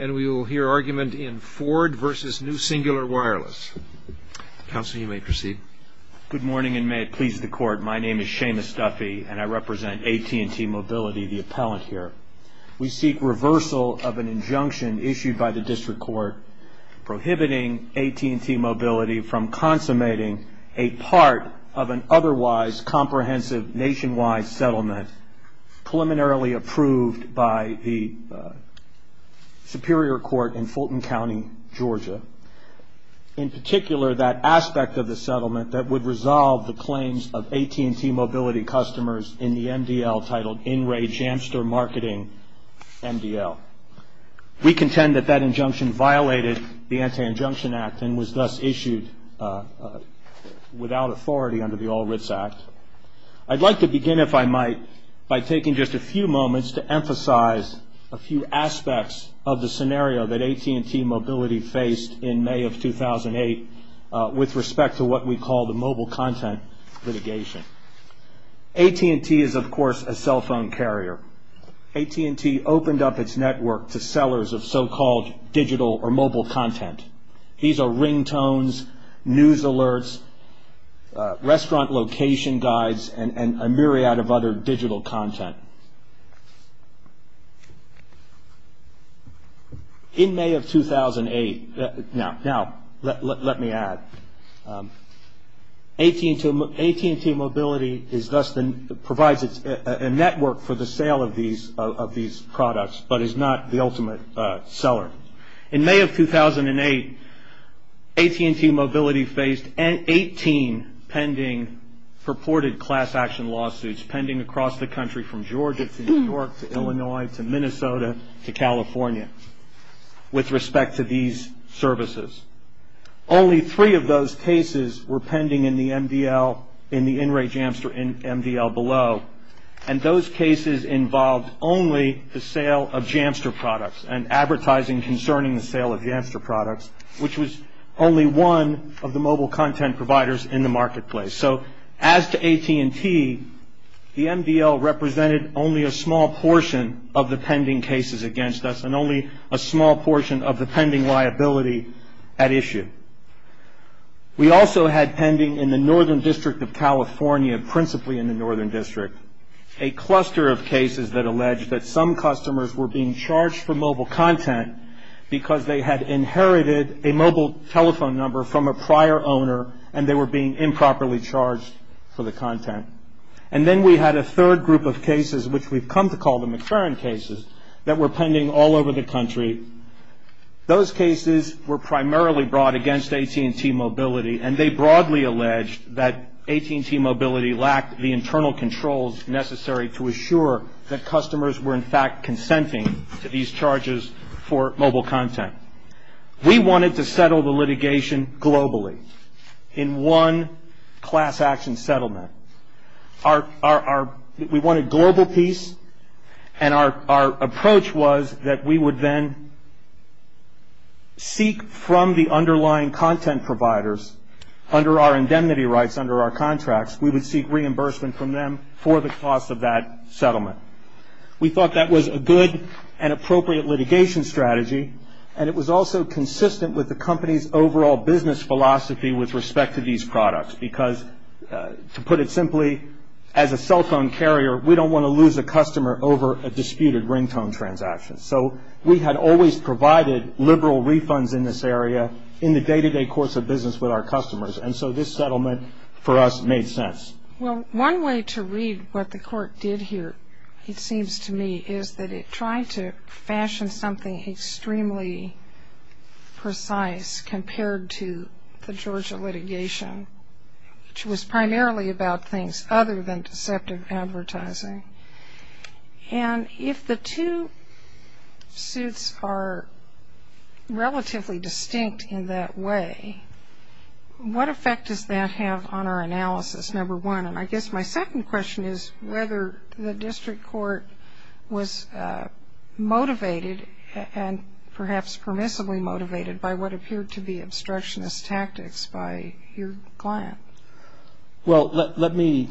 And we will hear argument in Ford v. New Singular Wireless. Counsel, you may proceed. Good morning, and may it please the Court. My name is Seamus Duffy, and I represent AT&T Mobility, the appellant here. We seek reversal of an injunction issued by the District Court prohibiting AT&T Mobility from consummating a part of an otherwise comprehensive nationwide settlement preliminarily approved by the Superior Court in Fulton County, Georgia. In particular, that aspect of the settlement that would resolve the claims of AT&T Mobility customers in the MDL titled In Re Jamster Marketing MDL. We contend that that injunction violated the Anti-Injunction Act and was thus issued without authority under the All Writs Act. I'd like to begin, if I might, by taking just a few moments to emphasize a few aspects of the scenario that AT&T Mobility faced in May of 2008 with respect to what we call the mobile content litigation. AT&T is, of course, a cell phone carrier. AT&T opened up its network to sellers of so-called digital or mobile content. These are ringtones, news alerts, restaurant location guides, and a myriad of other digital content. In May of 2008, now let me add, AT&T Mobility provides a network for the sale of these products but is not the ultimate seller. In May of 2008, AT&T Mobility faced 18 pending purported class action lawsuits pending across the country from Georgia to New York to Illinois to Minnesota to California with respect to these services. Only three of those cases were pending in the MDL, in the In Re Jamster MDL below, and those cases involved only the sale of Jamster products and advertising concerning the sale of Jamster products, which was only one of the mobile content providers in the marketplace. So as to AT&T, the MDL represented only a small portion of the pending cases against us and only a small portion of the pending liability at issue. We also had pending in the Northern District of California, principally in the Northern District, a cluster of cases that alleged that some customers were being charged for mobile content because they had inherited a mobile telephone number from a prior owner and they were being improperly charged for the content. And then we had a third group of cases, which we've come to call the McFerrin cases, that were pending all over the country. Those cases were primarily brought against AT&T Mobility, and they broadly alleged that AT&T Mobility lacked the internal controls necessary to assure that customers were in fact consenting to these charges for mobile content. We wanted to settle the litigation globally in one class action settlement. We wanted global peace, and our approach was that we would then seek from the underlying content providers under our indemnity rights, under our contracts, we would seek reimbursement from them for the cost of that settlement. We thought that was a good and appropriate litigation strategy, and it was also consistent with the company's overall business philosophy with respect to these products because to put it simply, as a cell phone carrier, we don't want to lose a customer over a disputed ringtone transaction. So we had always provided liberal refunds in this area in the day-to-day course of business with our customers, and so this settlement for us made sense. Well, one way to read what the court did here, it seems to me, is that it tried to fashion something extremely precise compared to the Georgia litigation, which was primarily about things other than deceptive advertising. And if the two suits are relatively distinct in that way, what effect does that have on our analysis, number one? And I guess my second question is whether the district court was motivated and perhaps permissibly motivated by what appeared to be obstructionist tactics by your client. Well, let me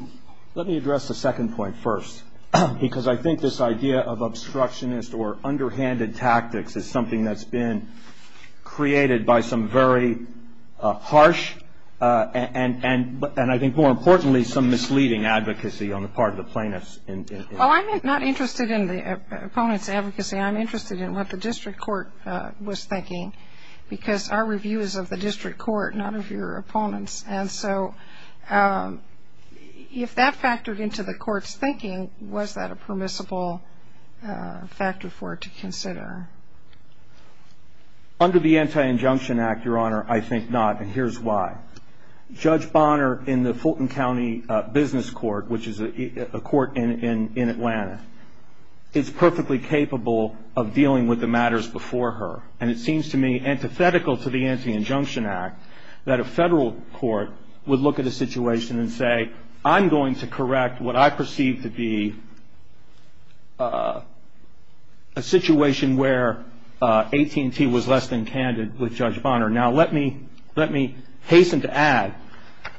address the second point first because I think this idea of obstructionist or underhanded tactics is something that's been created by some very harsh and I think more importantly some misleading advocacy on the part of the plaintiffs. Well, I'm not interested in the opponent's advocacy. I'm interested in what the district court was thinking because our review is of the district court, not of your opponents. And so if that factored into the court's thinking, was that a permissible factor for it to consider? Under the Anti-Injunction Act, Your Honor, I think not, and here's why. Judge Bonner in the Fulton County Business Court, which is a court in Atlanta, is perfectly capable of dealing with the matters before her. And it seems to me antithetical to the Anti-Injunction Act that a federal court would look at a situation and say, I'm going to correct what I perceive to be a situation where AT&T was less than candid with Judge Bonner. Now, let me hasten to add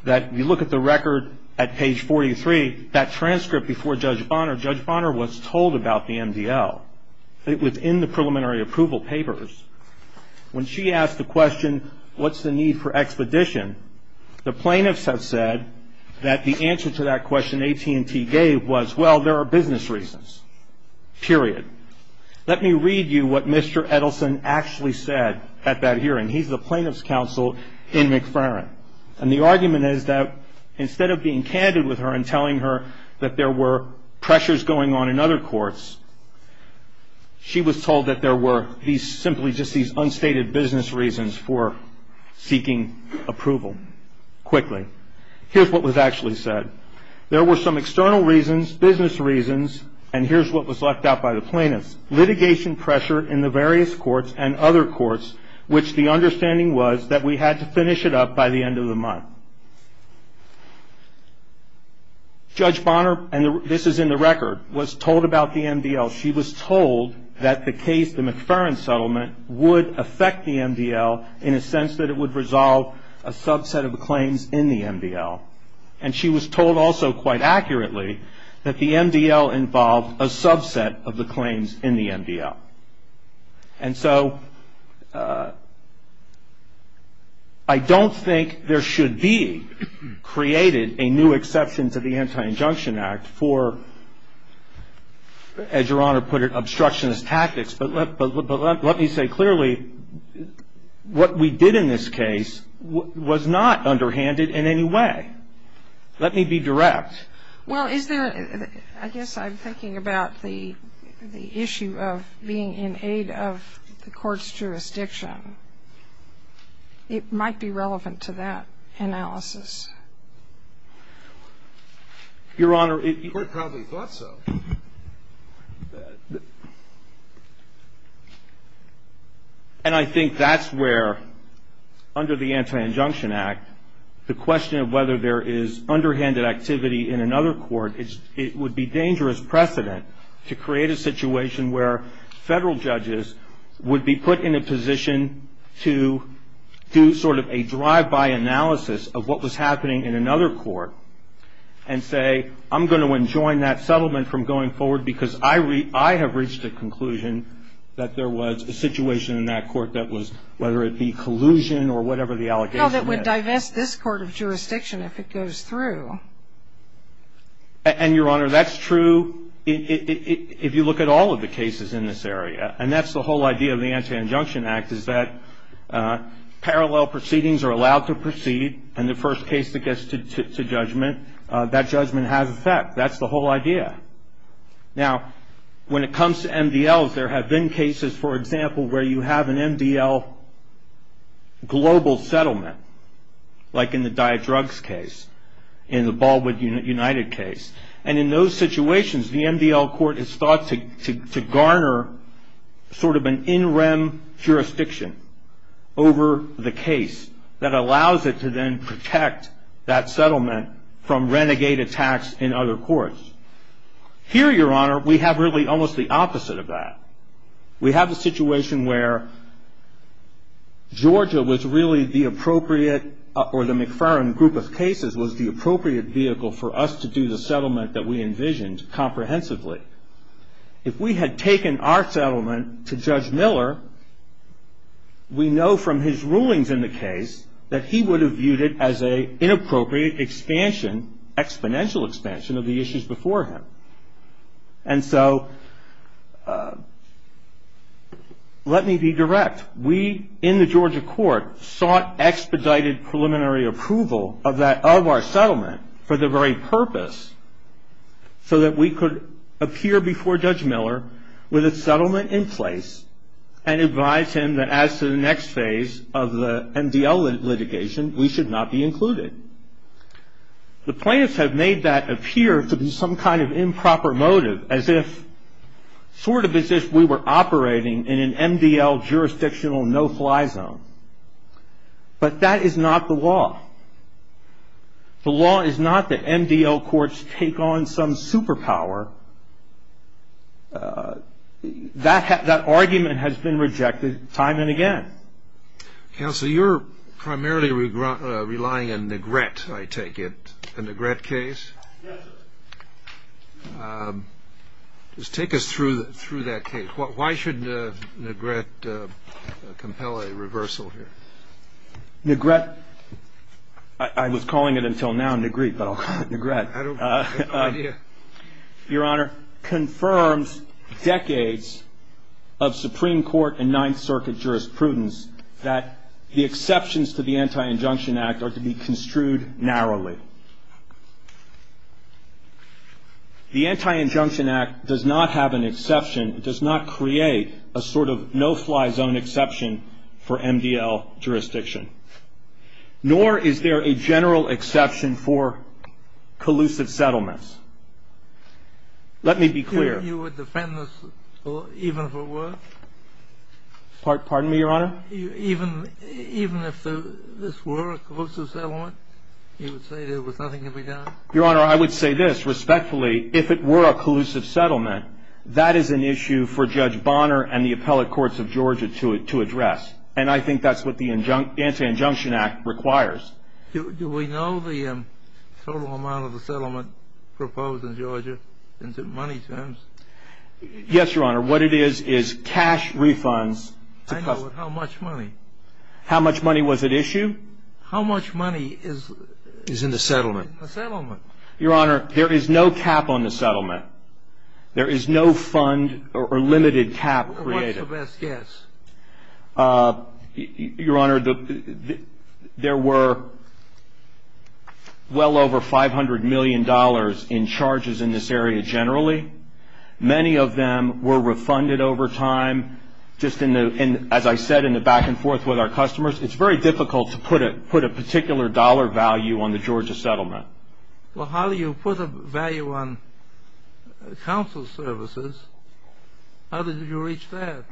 that if you look at the record at page 43, that transcript before Judge Bonner, Judge Bonner was told about the MDL. It was in the preliminary approval papers. When she asked the question, what's the need for expedition, the plaintiffs have said that the answer to that question AT&T gave was, well, there are business reasons, period. Let me read you what Mr. Edelson actually said at that hearing. He's the plaintiff's counsel in McFerrin. And the argument is that instead of being candid with her and telling her that there were pressures going on in other courts, she was told that there were simply just these unstated business reasons for seeking approval. Quickly, here's what was actually said. There were some external reasons, business reasons, and here's what was left out by the plaintiffs. Litigation pressure in the various courts and other courts, which the understanding was that we had to finish it up by the end of the month. Judge Bonner, and this is in the record, was told about the MDL. She was told that the case, the McFerrin settlement, would affect the MDL in a sense that it would resolve a subset of the claims in the MDL. And she was told also quite accurately that the MDL involved a subset of the claims in the MDL. And so I don't think there should be created a new exception to the Anti-Injunction Act for, as Your Honor put it, obstructionist tactics. But let me say clearly what we did in this case was not underhanded in any way. Let me be direct. Well, is there, I guess I'm thinking about the issue of being in aid of the court's jurisdiction. It might be relevant to that analysis. Your Honor, the court probably thought so. And I think that's where, under the Anti-Injunction Act, the question of whether there is underhanded activity in another court, it would be dangerous precedent to create a situation where federal judges would be put in a position to do sort of a drive-by analysis of what was happening in another court and say I'm going to enjoin that settlement from going forward because I have reached a conclusion that there was a situation in that court that was, whether it be collusion or whatever the allegation was. Well, that would divest this court of jurisdiction if it goes through. And, Your Honor, that's true if you look at all of the cases in this area. And that's the whole idea of the Anti-Injunction Act is that parallel proceedings are allowed to proceed and the first case that gets to judgment, that judgment has effect. That's the whole idea. Now, when it comes to MDLs, there have been cases, for example, where you have an MDL global settlement, like in the Diodrugs case, in the Baldwin United case. And in those situations, the MDL court is thought to garner sort of an in-rem jurisdiction over the case that allows it to then protect that settlement from renegade attacks in other courts. Here, Your Honor, we have really almost the opposite of that. We have a situation where Georgia was really the appropriate, or the McFarland group of cases, was the appropriate vehicle for us to do the settlement that we envisioned comprehensively. If we had taken our settlement to Judge Miller, we know from his rulings in the case that he would have viewed it as an inappropriate expansion, exponential expansion, of the issues before him. And so, let me be direct. We, in the Georgia court, sought expedited preliminary approval of our settlement for the very purpose so that we could appear before Judge Miller with a settlement in place and advise him that as to the next phase of the MDL litigation, we should not be included. The plaintiffs have made that appear to be some kind of improper motive, as if sort of as if we were operating in an MDL jurisdictional no-fly zone. But that is not the law. The law is not that MDL courts take on some superpower. That argument has been rejected time and again. Counsel, you're primarily relying on Negret, I take it, a Negret case? Yes. Just take us through that case. Why should Negret compel a reversal here? Negret, I was calling it until now Negrete, but I'll call it Negret. I don't have an idea. Your Honor, it confirms decades of Supreme Court and Ninth Circuit jurisprudence that the exceptions to the Anti-Injunction Act are to be construed narrowly. The Anti-Injunction Act does not have an exception. It does not create a sort of no-fly zone exception for MDL jurisdiction. Nor is there a general exception for collusive settlements. Let me be clear. You would defend this even if it were? Pardon me, Your Honor? Even if this were a collusive settlement, you would say there was nothing to be done? Your Honor, I would say this. Respectfully, if it were a collusive settlement, that is an issue for Judge Bonner and the appellate courts of Georgia to address. And I think that's what the Anti-Injunction Act requires. Do we know the total amount of the settlement proposed in Georgia in money terms? Yes, Your Honor. What it is is cash refunds. I know, but how much money? How much money was at issue? How much money is in the settlement? Your Honor, there is no cap on the settlement. There is no fund or limited cap created. What's the best guess? Your Honor, there were well over $500 million in charges in this area generally. Many of them were refunded over time. Just as I said in the back and forth with our customers, it's very difficult to put a particular dollar value on the Georgia settlement. Well, how do you put a value on council services? How did you reach that?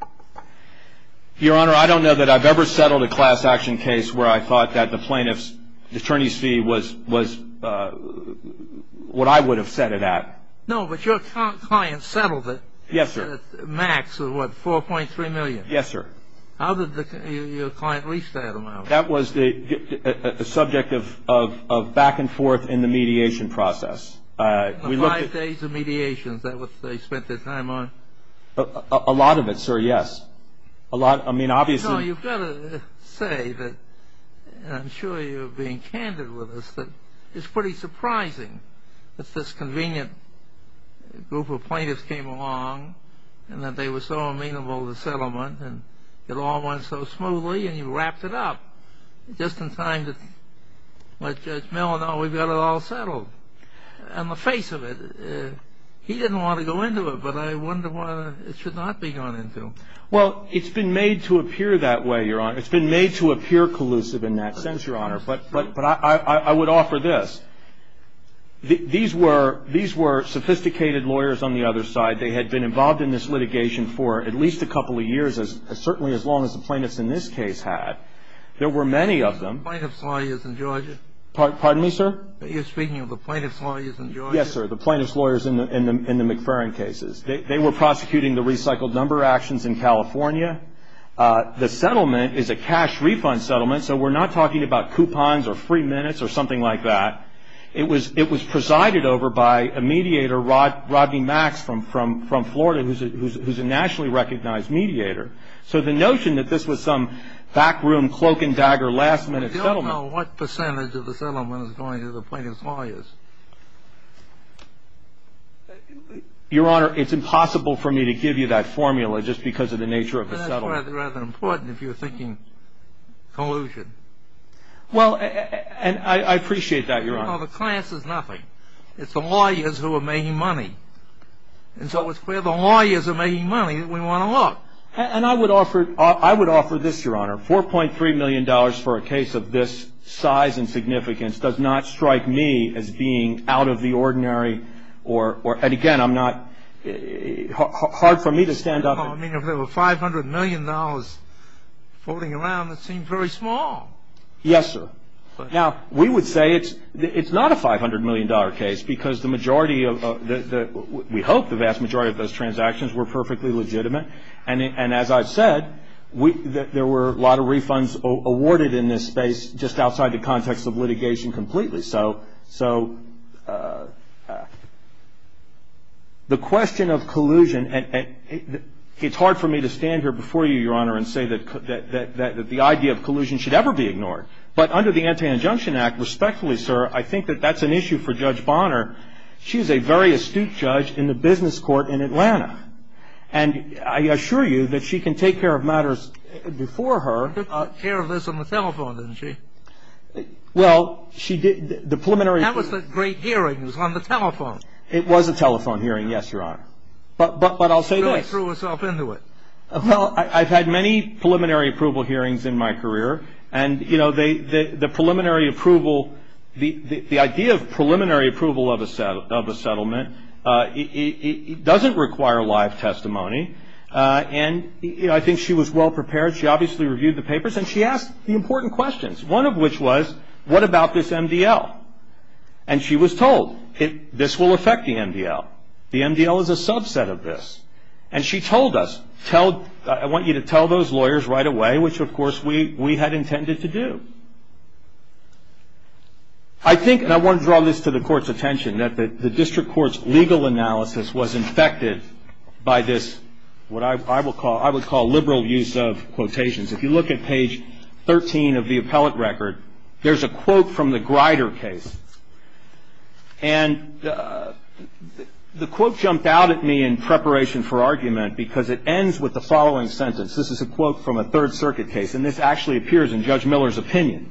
Your Honor, I don't know that I've ever settled a class action case where I thought that the plaintiff's attorney's fee was what I would have set it at. No, but your client settled it. Yes, sir. Max, what, $4.3 million? Yes, sir. How did your client reach that amount? That was a subject of back and forth in the mediation process. Five days of mediation, is that what they spent their time on? A lot of it, sir, yes. I mean, obviously— No, you've got to say that, and I'm sure you're being candid with us, that it's pretty surprising that this convenient group of plaintiffs came along and that they were so amenable to settlement and it all went so smoothly and you wrapped it up just in time to let Judge Miller know we've got it all settled. On the face of it, he didn't want to go into it, but I wonder why it should not be gone into. Well, it's been made to appear that way, Your Honor. It's been made to appear collusive in that sense, Your Honor. But I would offer this. These were sophisticated lawyers on the other side. They had been involved in this litigation for at least a couple of years, certainly as long as the plaintiffs in this case had. There were many of them— You're speaking of the plaintiff's lawyers in Georgia? Pardon me, sir? You're speaking of the plaintiff's lawyers in Georgia? Yes, sir, the plaintiff's lawyers in the McFerrin cases. They were prosecuting the recycled number actions in California. The settlement is a cash refund settlement, so we're not talking about coupons or free minutes or something like that. It was presided over by a mediator, Rodney Max, from Florida, who's a nationally recognized mediator. So the notion that this was some backroom, cloak-and-dagger, last-minute settlement— We don't know what percentage of the settlement is going to the plaintiff's lawyers. Your Honor, it's impossible for me to give you that formula just because of the nature of the settlement. That's rather important if you're thinking collusion. Well, and I appreciate that, Your Honor. No, the class is nothing. It's the lawyers who are making money. And so it's where the lawyers are making money that we want to look. And I would offer this, Your Honor. $4.3 million for a case of this size and significance does not strike me as being out of the ordinary. And again, I'm not—hard for me to stand up— Well, I mean, if there were $500 million floating around, that seems very small. Yes, sir. Now, we would say it's not a $500 million case because the majority of— we hope the vast majority of those transactions were perfectly legitimate. And as I've said, there were a lot of refunds awarded in this space just outside the context of litigation completely. So the question of collusion—it's hard for me to stand here before you, Your Honor, and say that the idea of collusion should ever be ignored. But under the Anti-Injunction Act, respectfully, sir, I think that that's an issue for Judge Bonner. She's a very astute judge in the business court in Atlanta. And I assure you that she can take care of matters before her. She took care of this on the telephone, didn't she? Well, she did. The preliminary— That was a great hearing. It was on the telephone. It was a telephone hearing, yes, Your Honor. But I'll say this— She really threw herself into it. Well, I've had many preliminary approval hearings in my career. And, you know, the preliminary approval—the idea of preliminary approval of a settlement doesn't require live testimony. And, you know, I think she was well prepared. She obviously reviewed the papers. And she asked the important questions. One of which was, what about this MDL? And she was told, this will affect the MDL. The MDL is a subset of this. And she told us, tell—I want you to tell those lawyers right away, which, of course, we had intended to do. I think—and I want to draw this to the Court's attention—that the district court's legal analysis was infected by this, what I would call liberal use of quotations. If you look at page 13 of the appellate record, there's a quote from the Grider case. And the quote jumped out at me in preparation for argument because it ends with the following sentence. This is a quote from a Third Circuit case. And this actually appears in Judge Miller's opinion.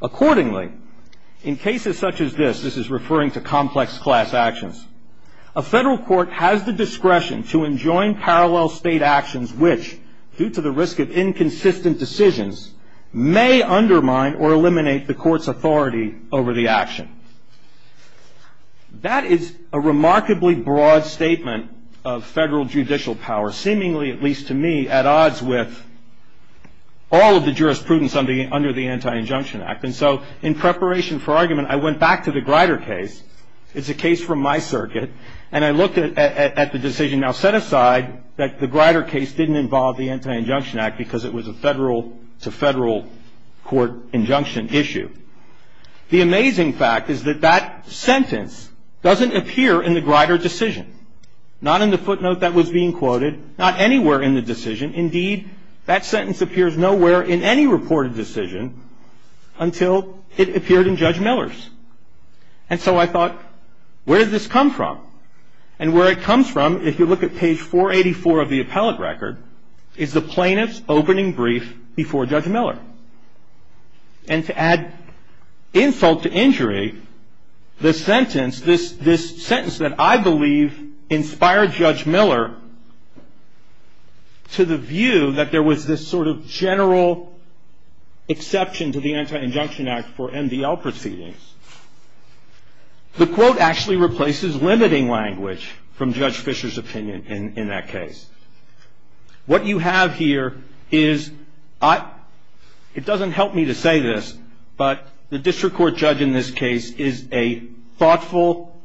Accordingly, in cases such as this—this is referring to complex class actions— a federal court has the discretion to enjoin parallel state actions which, due to the risk of inconsistent decisions, may undermine or eliminate the court's authority over the action. That is a remarkably broad statement of federal judicial power, seemingly, at least to me, at odds with all of the jurisprudence under the Anti-Injunction Act. And so in preparation for argument, I went back to the Grider case. It's a case from my circuit. And I looked at the decision. Now, set aside that the Grider case didn't involve the Anti-Injunction Act because it was a federal-to-federal court injunction issue, the amazing fact is that that sentence doesn't appear in the Grider decision. Not in the footnote that was being quoted. Not anywhere in the decision. Indeed, that sentence appears nowhere in any reported decision until it appeared in Judge Miller's. And so I thought, where did this come from? And where it comes from, if you look at page 484 of the appellate record, is the plaintiff's opening brief before Judge Miller. And to add insult to injury, the sentence—this sentence that I believe inspired Judge Miller to the view that there was this sort of general exception to the Anti-Injunction Act for MDL proceedings, the quote actually replaces limiting language from Judge Fisher's opinion in that case. What you have here is—it doesn't help me to say this, but the district court judge in this case is a thoughtful,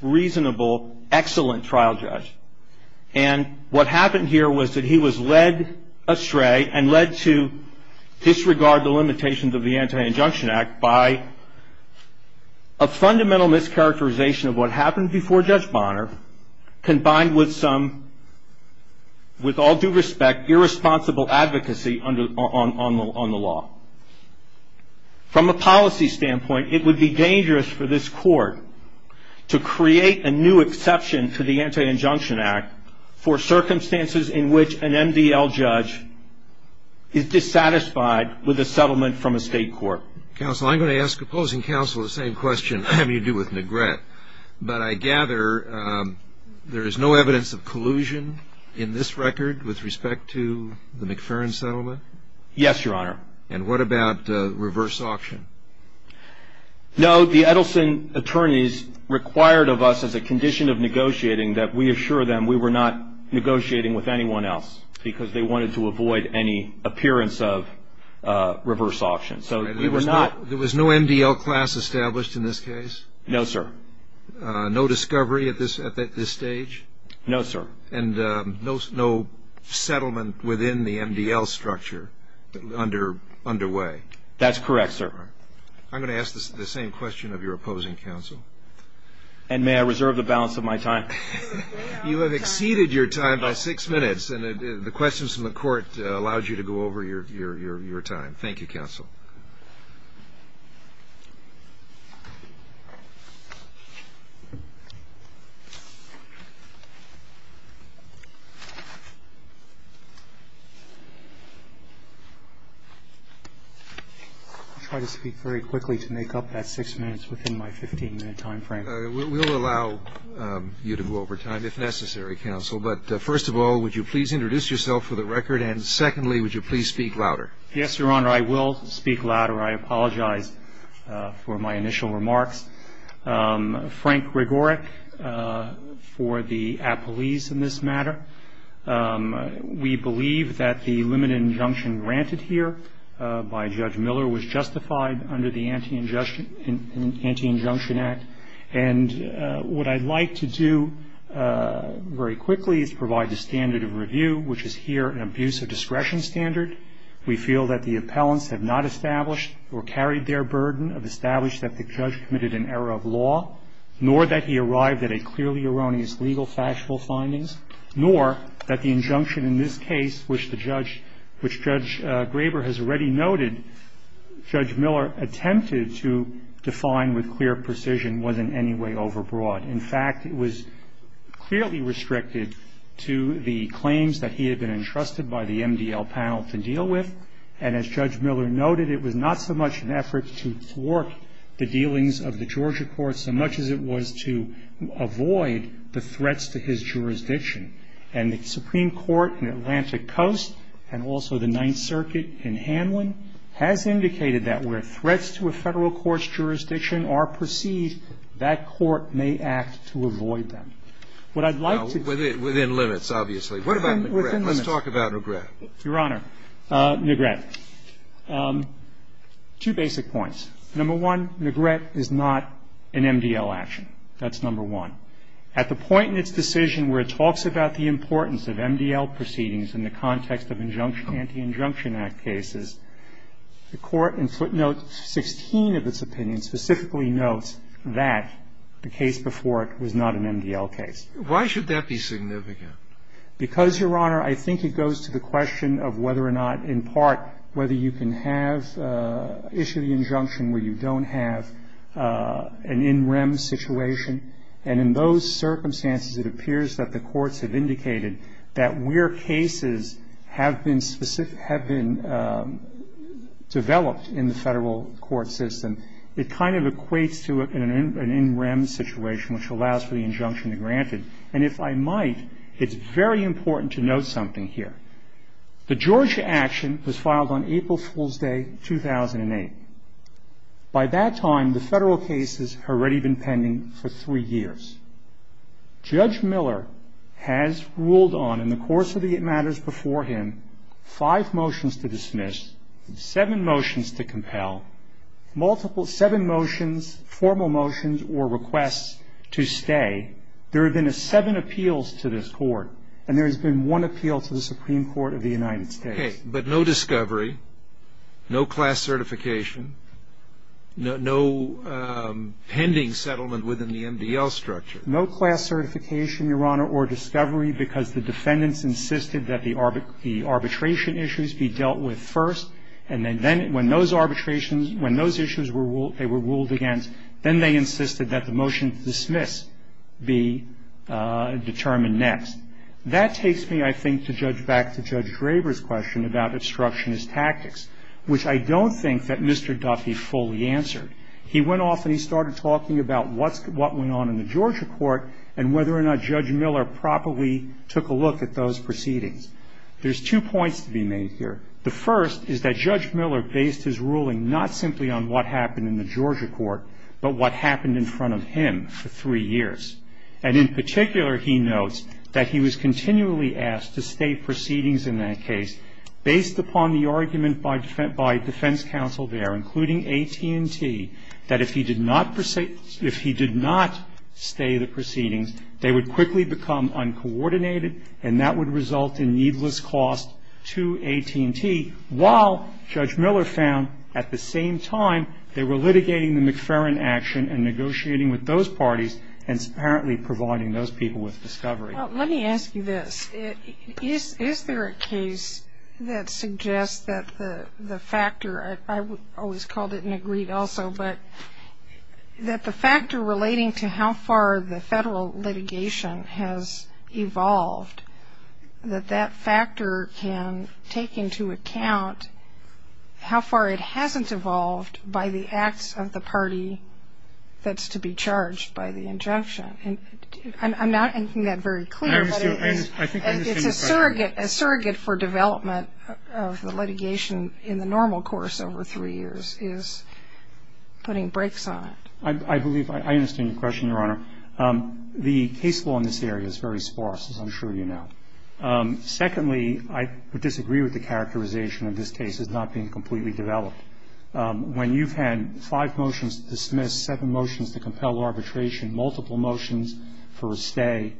reasonable, excellent trial judge. And what happened here was that he was led astray and led to disregard the limitations of the Anti-Injunction Act by a fundamental mischaracterization of what happened before Judge Bonner combined with some, with all due respect, irresponsible advocacy on the law. From a policy standpoint, it would be dangerous for this court to create a new exception to the Anti-Injunction Act for circumstances in which an MDL judge is dissatisfied with a settlement from a state court. Counsel, I'm going to ask opposing counsel the same question you do with Negret. But I gather there is no evidence of collusion in this record with respect to the McFerrin settlement? Yes, Your Honor. And what about reverse auction? No, the Edelson attorneys required of us as a condition of negotiating that we assure them we were not negotiating with anyone else because they wanted to avoid any appearance of reverse auction. So we were not— There was no MDL class established in this case? No, sir. No discovery at this stage? No, sir. And no settlement within the MDL structure underway? That's correct, sir. I'm going to ask the same question of your opposing counsel. And may I reserve the balance of my time? You have exceeded your time by six minutes, and the questions from the court allowed you to go over your time. Thank you, counsel. I'll try to speak very quickly to make up that six minutes within my 15-minute time frame. We'll allow you to go over time, if necessary, counsel. But first of all, would you please introduce yourself for the record? And secondly, would you please speak louder? I will speak louder. Thank you. I will speak louder. I apologize for my initial remarks. Frank Gregoric for the appellees in this matter. We believe that the limited injunction granted here by Judge Miller was justified under the Anti-Injunction Act. And what I'd like to do very quickly is provide the standard of review, which is here an abuse of discretion standard. We feel that the appellants have not established or carried their burden, have established that the judge committed an error of law, nor that he arrived at a clearly erroneous legal factual findings, nor that the injunction in this case, which Judge Graber has already noted, Judge Miller attempted to define with clear precision was in any way overbroad. In fact, it was clearly restricted to the claims that he had been entrusted by the MDL panel to deal with. And as Judge Miller noted, it was not so much an effort to thwart the dealings of the Georgia courts so much as it was to avoid the threats to his jurisdiction. And the Supreme Court in Atlantic Coast and also the Ninth Circuit in Hanlon has indicated that where threats to a federal court's jurisdiction are perceived, that court may act to avoid them. What I'd like to do is to do is to do this. Scalia, within limits, obviously. What about McGrath? Let's talk about McGrath. Your Honor, McGrath. Two basic points. Number one, McGrath is not an MDL action. That's number one. At the point in its decision where it talks about the importance of MDL proceedings in the context of injunction, Anti-Injunction Act cases, the Court in footnotes 16 of its opinion specifically notes that the case before it was not an MDL case. Why should that be significant? Because, Your Honor, I think it goes to the question of whether or not, in part, whether you can have issue of the injunction where you don't have an in rem situation. And in those circumstances, it appears that the courts have indicated that where cases have been developed in the federal court system, it kind of equates to an in rem situation, which allows for the injunction to be granted. And if I might, it's very important to note something here. The Georgia action was filed on April Fool's Day, 2008. By that time, the federal cases had already been pending for three years. Judge Miller has ruled on, in the course of the matters before him, five motions to dismiss, seven motions to compel, multiple seven motions, formal motions or requests to stay. There have been seven appeals to this Court, and there has been one appeal to the Supreme Court of the United States. Okay. But no discovery, no class certification, no pending settlement within the MDL structure. No class certification, Your Honor, or discovery because the defendants insisted that the arbitration issues be dealt with first, and then when those arbitrations, when those issues were ruled against, then they insisted that the motion to dismiss be determined next. That takes me, I think, to judge back to Judge Draper's question about obstructionist tactics, which I don't think that Mr. Duffy fully answered. He went off and he started talking about what went on in the Georgia court and whether or not Judge Miller properly took a look at those proceedings. There's two points to be made here. The first is that Judge Miller based his ruling not simply on what happened in the Georgia court, but what happened in front of him for three years. And in particular, he notes that he was continually asked to stay proceedings in that case based upon the argument by defense counsel there, including AT&T, that if he did not stay the proceedings, they would quickly become uncoordinated and that would result in needless cost to AT&T, while Judge Miller found at the same time they were litigating the McFerrin action and negotiating with those parties and apparently providing those people with discovery. Well, let me ask you this. Is there a case that suggests that the factor, I always called it and agreed also, but that the factor relating to how far the federal litigation has evolved, that that factor can take into account how far it hasn't evolved by the acts of the party that's to be charged by the injunction? I'm not making that very clear, but it's a surrogate for development of the litigation in the normal course over three years is putting brakes on it. I believe I understand your question, Your Honor. The case law in this area is very sparse, as I'm sure you know. Secondly, I would disagree with the characterization of this case as not being completely developed. When you've had five motions to dismiss, seven motions to compel arbitration, multiple motions for a stay,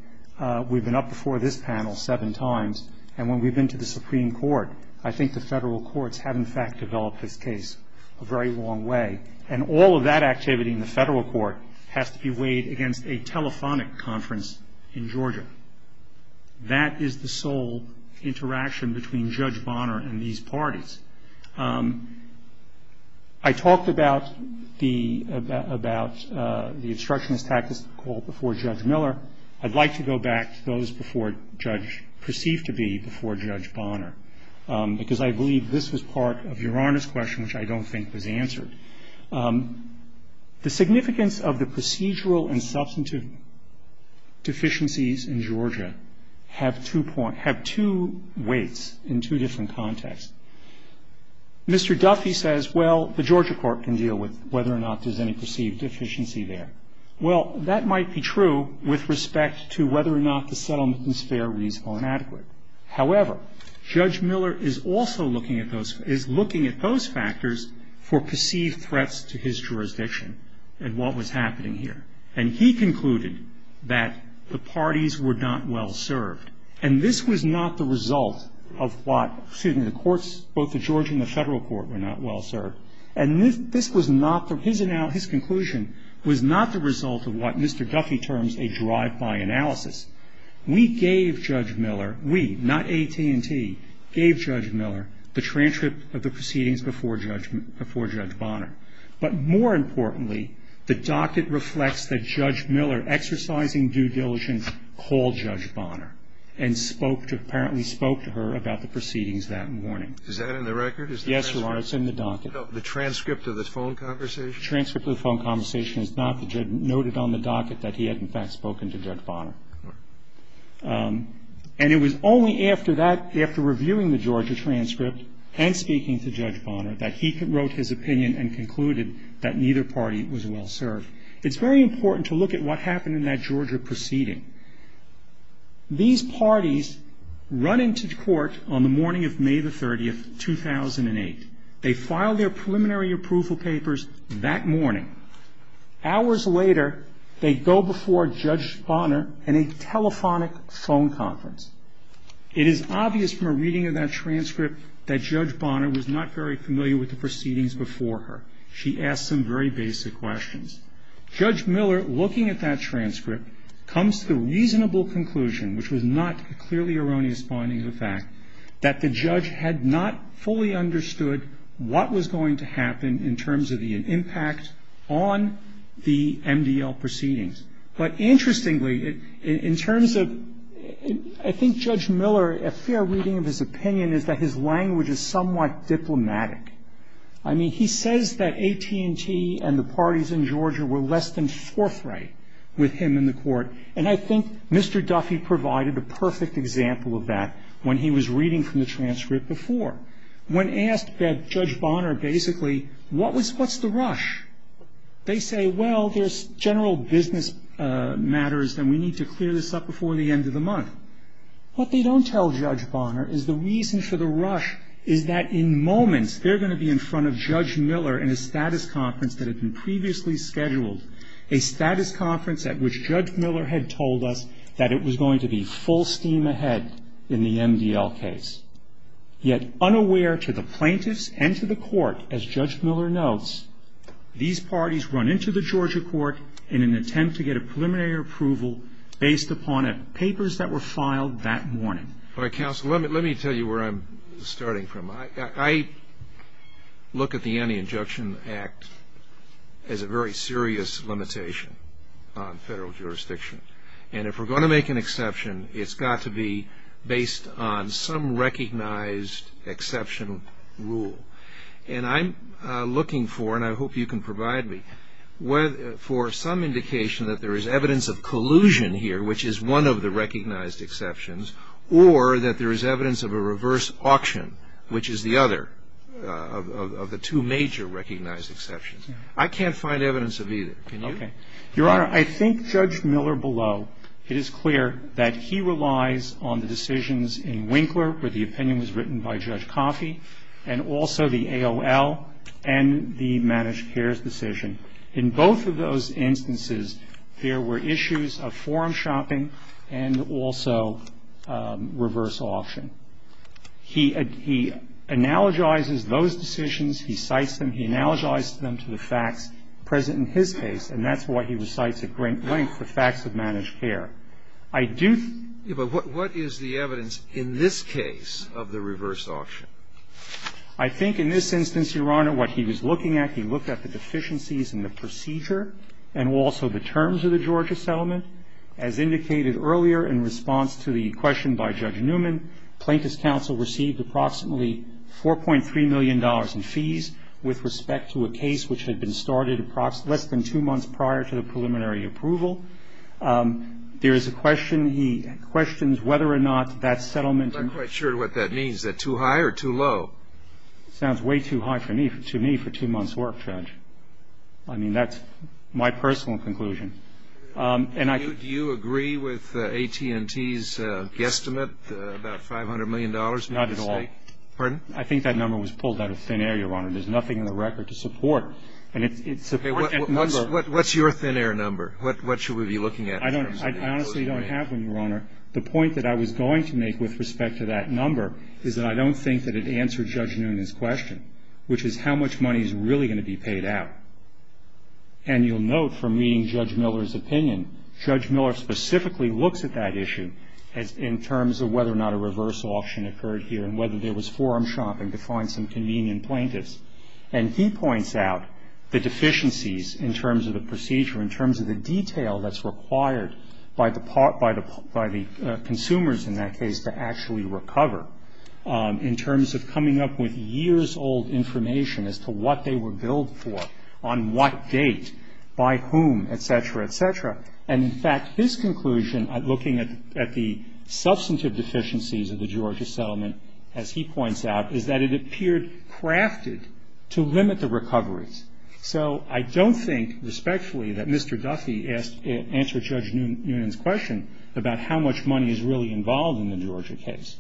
we've been up before this panel seven times, and when we've been to the Supreme Court, I think the federal courts have in fact developed this case a very long way. And all of that activity in the federal court has to be weighed against a telephonic conference in Georgia. That is the sole interaction between Judge Bonner and these parties. I talked about the obstructionist tactics before Judge Miller. I'd like to go back to those before Judge, perceived to be before Judge Bonner, because I believe this was part of Your Honor's question, which I don't think was answered. The significance of the procedural and substantive deficiencies in Georgia have two weights in two different contexts. Mr. Duffy says, well, the Georgia court can deal with whether or not there's any perceived deficiency there. Well, that might be true with respect to whether or not the settlement is fair, reasonable, and adequate. However, Judge Miller is also looking at those factors for perceived threats to his jurisdiction and what was happening here. And he concluded that the parties were not well served. And this was not the result of what, excuse me, the courts, both the Georgia and the federal court, were not well served. And this was not, from his conclusion, was not the result of what Mr. Duffy terms a drive-by analysis. We gave Judge Miller, we, not AT&T, gave Judge Miller the transcript of the proceedings before Judge Bonner. But more importantly, the docket reflects that Judge Miller, exercising due diligence, called Judge Bonner and spoke to, apparently spoke to her about the proceedings that morning. Is that in the record? Yes, Your Honor, it's in the docket. The transcript of the phone conversation? The transcript of the phone conversation is not noted on the docket that he had, in fact, spoken to Judge Bonner. And it was only after that, after reviewing the Georgia transcript and speaking to Judge Bonner, that he wrote his opinion and concluded that neither party was well served. It's very important to look at what happened in that Georgia proceeding. These parties run into court on the morning of May the 30th, 2008. They file their preliminary approval papers that morning. Hours later, they go before Judge Bonner in a telephonic phone conference. It is obvious from a reading of that transcript that Judge Bonner was not very familiar with the proceedings before her. She asked some very basic questions. Judge Miller, looking at that transcript, comes to the reasonable conclusion, which was not a clearly erroneous finding of fact, that the judge had not fully understood what was going to happen in terms of the impact on the MDL proceedings. But interestingly, in terms of – I think Judge Miller, a fair reading of his opinion is that his language is somewhat diplomatic. I mean, he says that AT&T and the parties in Georgia were less than forthright with him in the court. And I think Mr. Duffy provided a perfect example of that when he was reading from the transcript before. When asked by Judge Bonner, basically, what's the rush? They say, well, there's general business matters, and we need to clear this up before the end of the month. What they don't tell Judge Bonner is the reason for the rush is that in moments they're going to be in front of Judge Miller in a status conference that had been previously scheduled, a status conference at which Judge Miller had told us that it was going to be full steam ahead in the MDL case. Yet, unaware to the plaintiffs and to the court, as Judge Miller notes, these parties run into the Georgia court in an attempt to get a preliminary approval based upon papers that were filed that morning. All right, counsel, let me tell you where I'm starting from. I look at the Anti-Injection Act as a very serious limitation on federal jurisdiction. And if we're going to make an exception, it's got to be based on some recognized exception rule. And I'm looking for, and I hope you can provide me, for some indication that there is one of the recognized exceptions or that there is evidence of a reverse auction, which is the other of the two major recognized exceptions. I can't find evidence of either. Can you? Your Honor, I think Judge Miller below, it is clear that he relies on the decisions in Winkler, where the opinion was written by Judge Coffey, and also the AOL and the Managed Cares decision. In both of those instances, there were issues of forum shopping and also reverse auction. He analogizes those decisions. He cites them. He analogizes them to the facts present in his case, and that's why he recites at great length the facts of Managed Care. I do think the evidence in this case of the reverse auction. I think in this instance, Your Honor, what he was looking at, he looked at the deficiencies in the procedure and also the terms of the Georgia settlement. As indicated earlier in response to the question by Judge Newman, Plaintiff's Counsel received approximately $4.3 million in fees with respect to a case which had been started less than two months prior to the preliminary approval. There is a question. He questions whether or not that settlement. I'm not quite sure what that means. Is that too high or too low? It sounds way too high to me for two months' work, Judge. I mean, that's my personal conclusion. Do you agree with AT&T's guesstimate, about $500 million? Not at all. Pardon? I think that number was pulled out of thin air, Your Honor. There's nothing in the record to support it. What's your thin air number? What should we be looking at? I honestly don't have one, Your Honor. The point that I was going to make with respect to that number is that I don't think that it answered Judge Newman's question, which is how much money is really going to be paid out. And you'll note from reading Judge Miller's opinion, Judge Miller specifically looks at that issue in terms of whether or not a reverse auction occurred here and whether there was forum shopping to find some convenient plaintiffs. And he points out the deficiencies in terms of the procedure, in terms of the detail that's required by the consumers in that case to actually recover, in terms of coming up with years-old information as to what they were billed for, on what date, by whom, et cetera, et cetera. And, in fact, his conclusion, looking at the substantive deficiencies of the Georgia settlement, as he points out, is that it appeared crafted to limit the recoveries. So I don't think, respectfully, that Mr. Duffy answered Judge Newman's question about how much money is really involved in the Georgia case.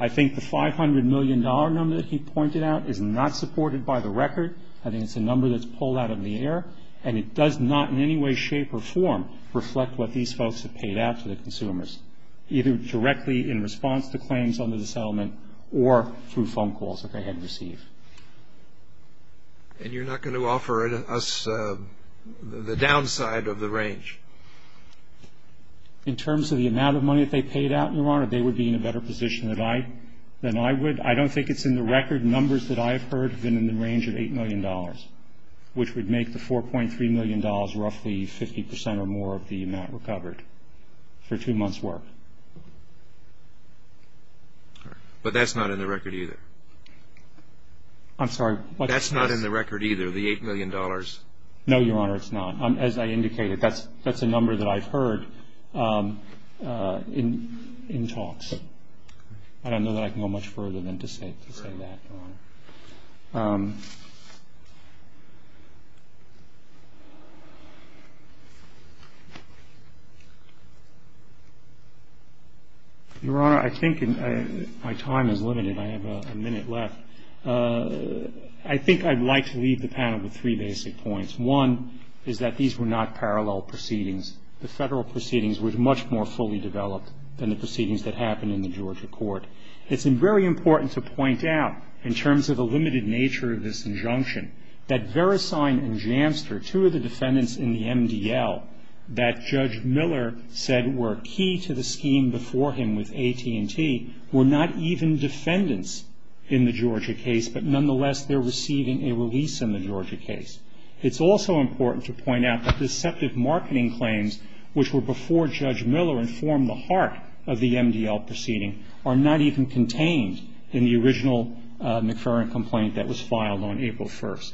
I think the $500 million number that he pointed out is not supported by the record. I think it's a number that's pulled out of the air, and it does not in any way, shape, or form reflect what these folks have paid out to the consumers, either directly in response to claims under the settlement or through phone calls that they had received. And you're not going to offer us the downside of the range? In terms of the amount of money that they paid out, Your Honor, they would be in a better position than I would. I don't think it's in the record. Numbers that I've heard have been in the range of $8 million, which would make the $4.3 million roughly 50 percent or more of the amount recovered for two months' work. But that's not in the record either? I'm sorry? That's not in the record either, the $8 million? No, Your Honor, it's not. As I indicated, that's a number that I've heard in talks. I don't know that I can go much further than to say that, Your Honor. Your Honor, I think my time is limited. I have a minute left. I think I'd like to leave the panel with three basic points. One is that these were not parallel proceedings. The federal proceedings were much more fully developed than the proceedings that happened in the Georgia court. It's very important to point out, in terms of the limited nature of this injunction, that Veresign and Jamster, two of the defendants in the MDL, that Judge Miller said were key to the scheme before him with AT&T, were not even defendants in the Georgia case, but nonetheless they're receiving a release in the Georgia case. It's also important to point out that deceptive marketing claims, which were before Judge Miller and formed the heart of the MDL proceeding, are not even contained in the original McFerrin complaint that was filed on April 1st.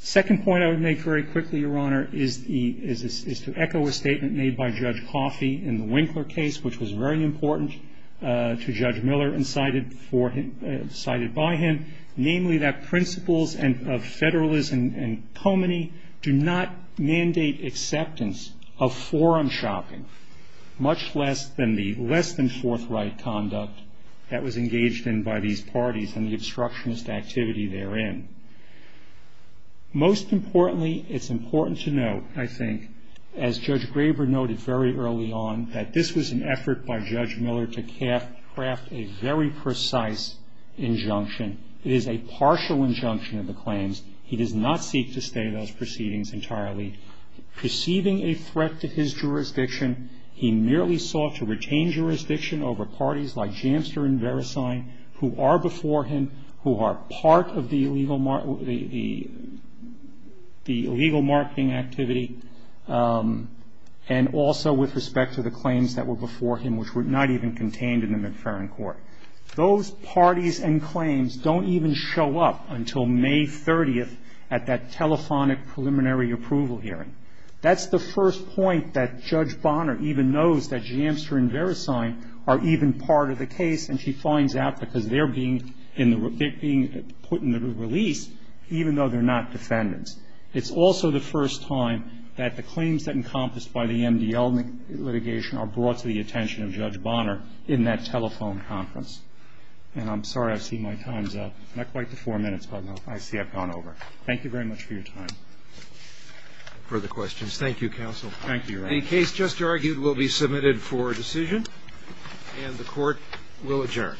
The second point I would make very quickly, Your Honor, is to echo a statement made by Judge Coffey in the Winkler case, which was very important to Judge Miller and cited by him, namely that principles of federalism and pulmony do not mandate acceptance of forum shopping, much less than the less than forthright conduct that was engaged in by these parties and the obstructionist activity therein. Most importantly, it's important to note, I think, as Judge Graber noted very early on, that this was an effort by Judge Miller to craft a very precise injunction. It is a partial injunction of the claims. He does not seek to stay those proceedings entirely. Perceiving a threat to his jurisdiction, he merely sought to retain jurisdiction over parties like Jamster and Verisign, who are before him, who are part of the illegal marketing activity, and also with respect to the claims that were before him, which were not even contained in the McFerrin court. Those parties and claims don't even show up until May 30th at that telephonic preliminary approval hearing. That's the first point that Judge Bonner even knows that Jamster and Verisign are even part of the case, and she finds out because they're being put in the release, even though they're not defendants. It's also the first time that the claims that encompassed by the MDL litigation are brought to the attention of Judge Bonner in that telephone conference. And I'm sorry I've seen my time's up. Not quite the four minutes, but I see I've gone over. Thank you very much for your time. Further questions? Thank you, counsel. Thank you. The case just argued will be submitted for decision, and the court will adjourn.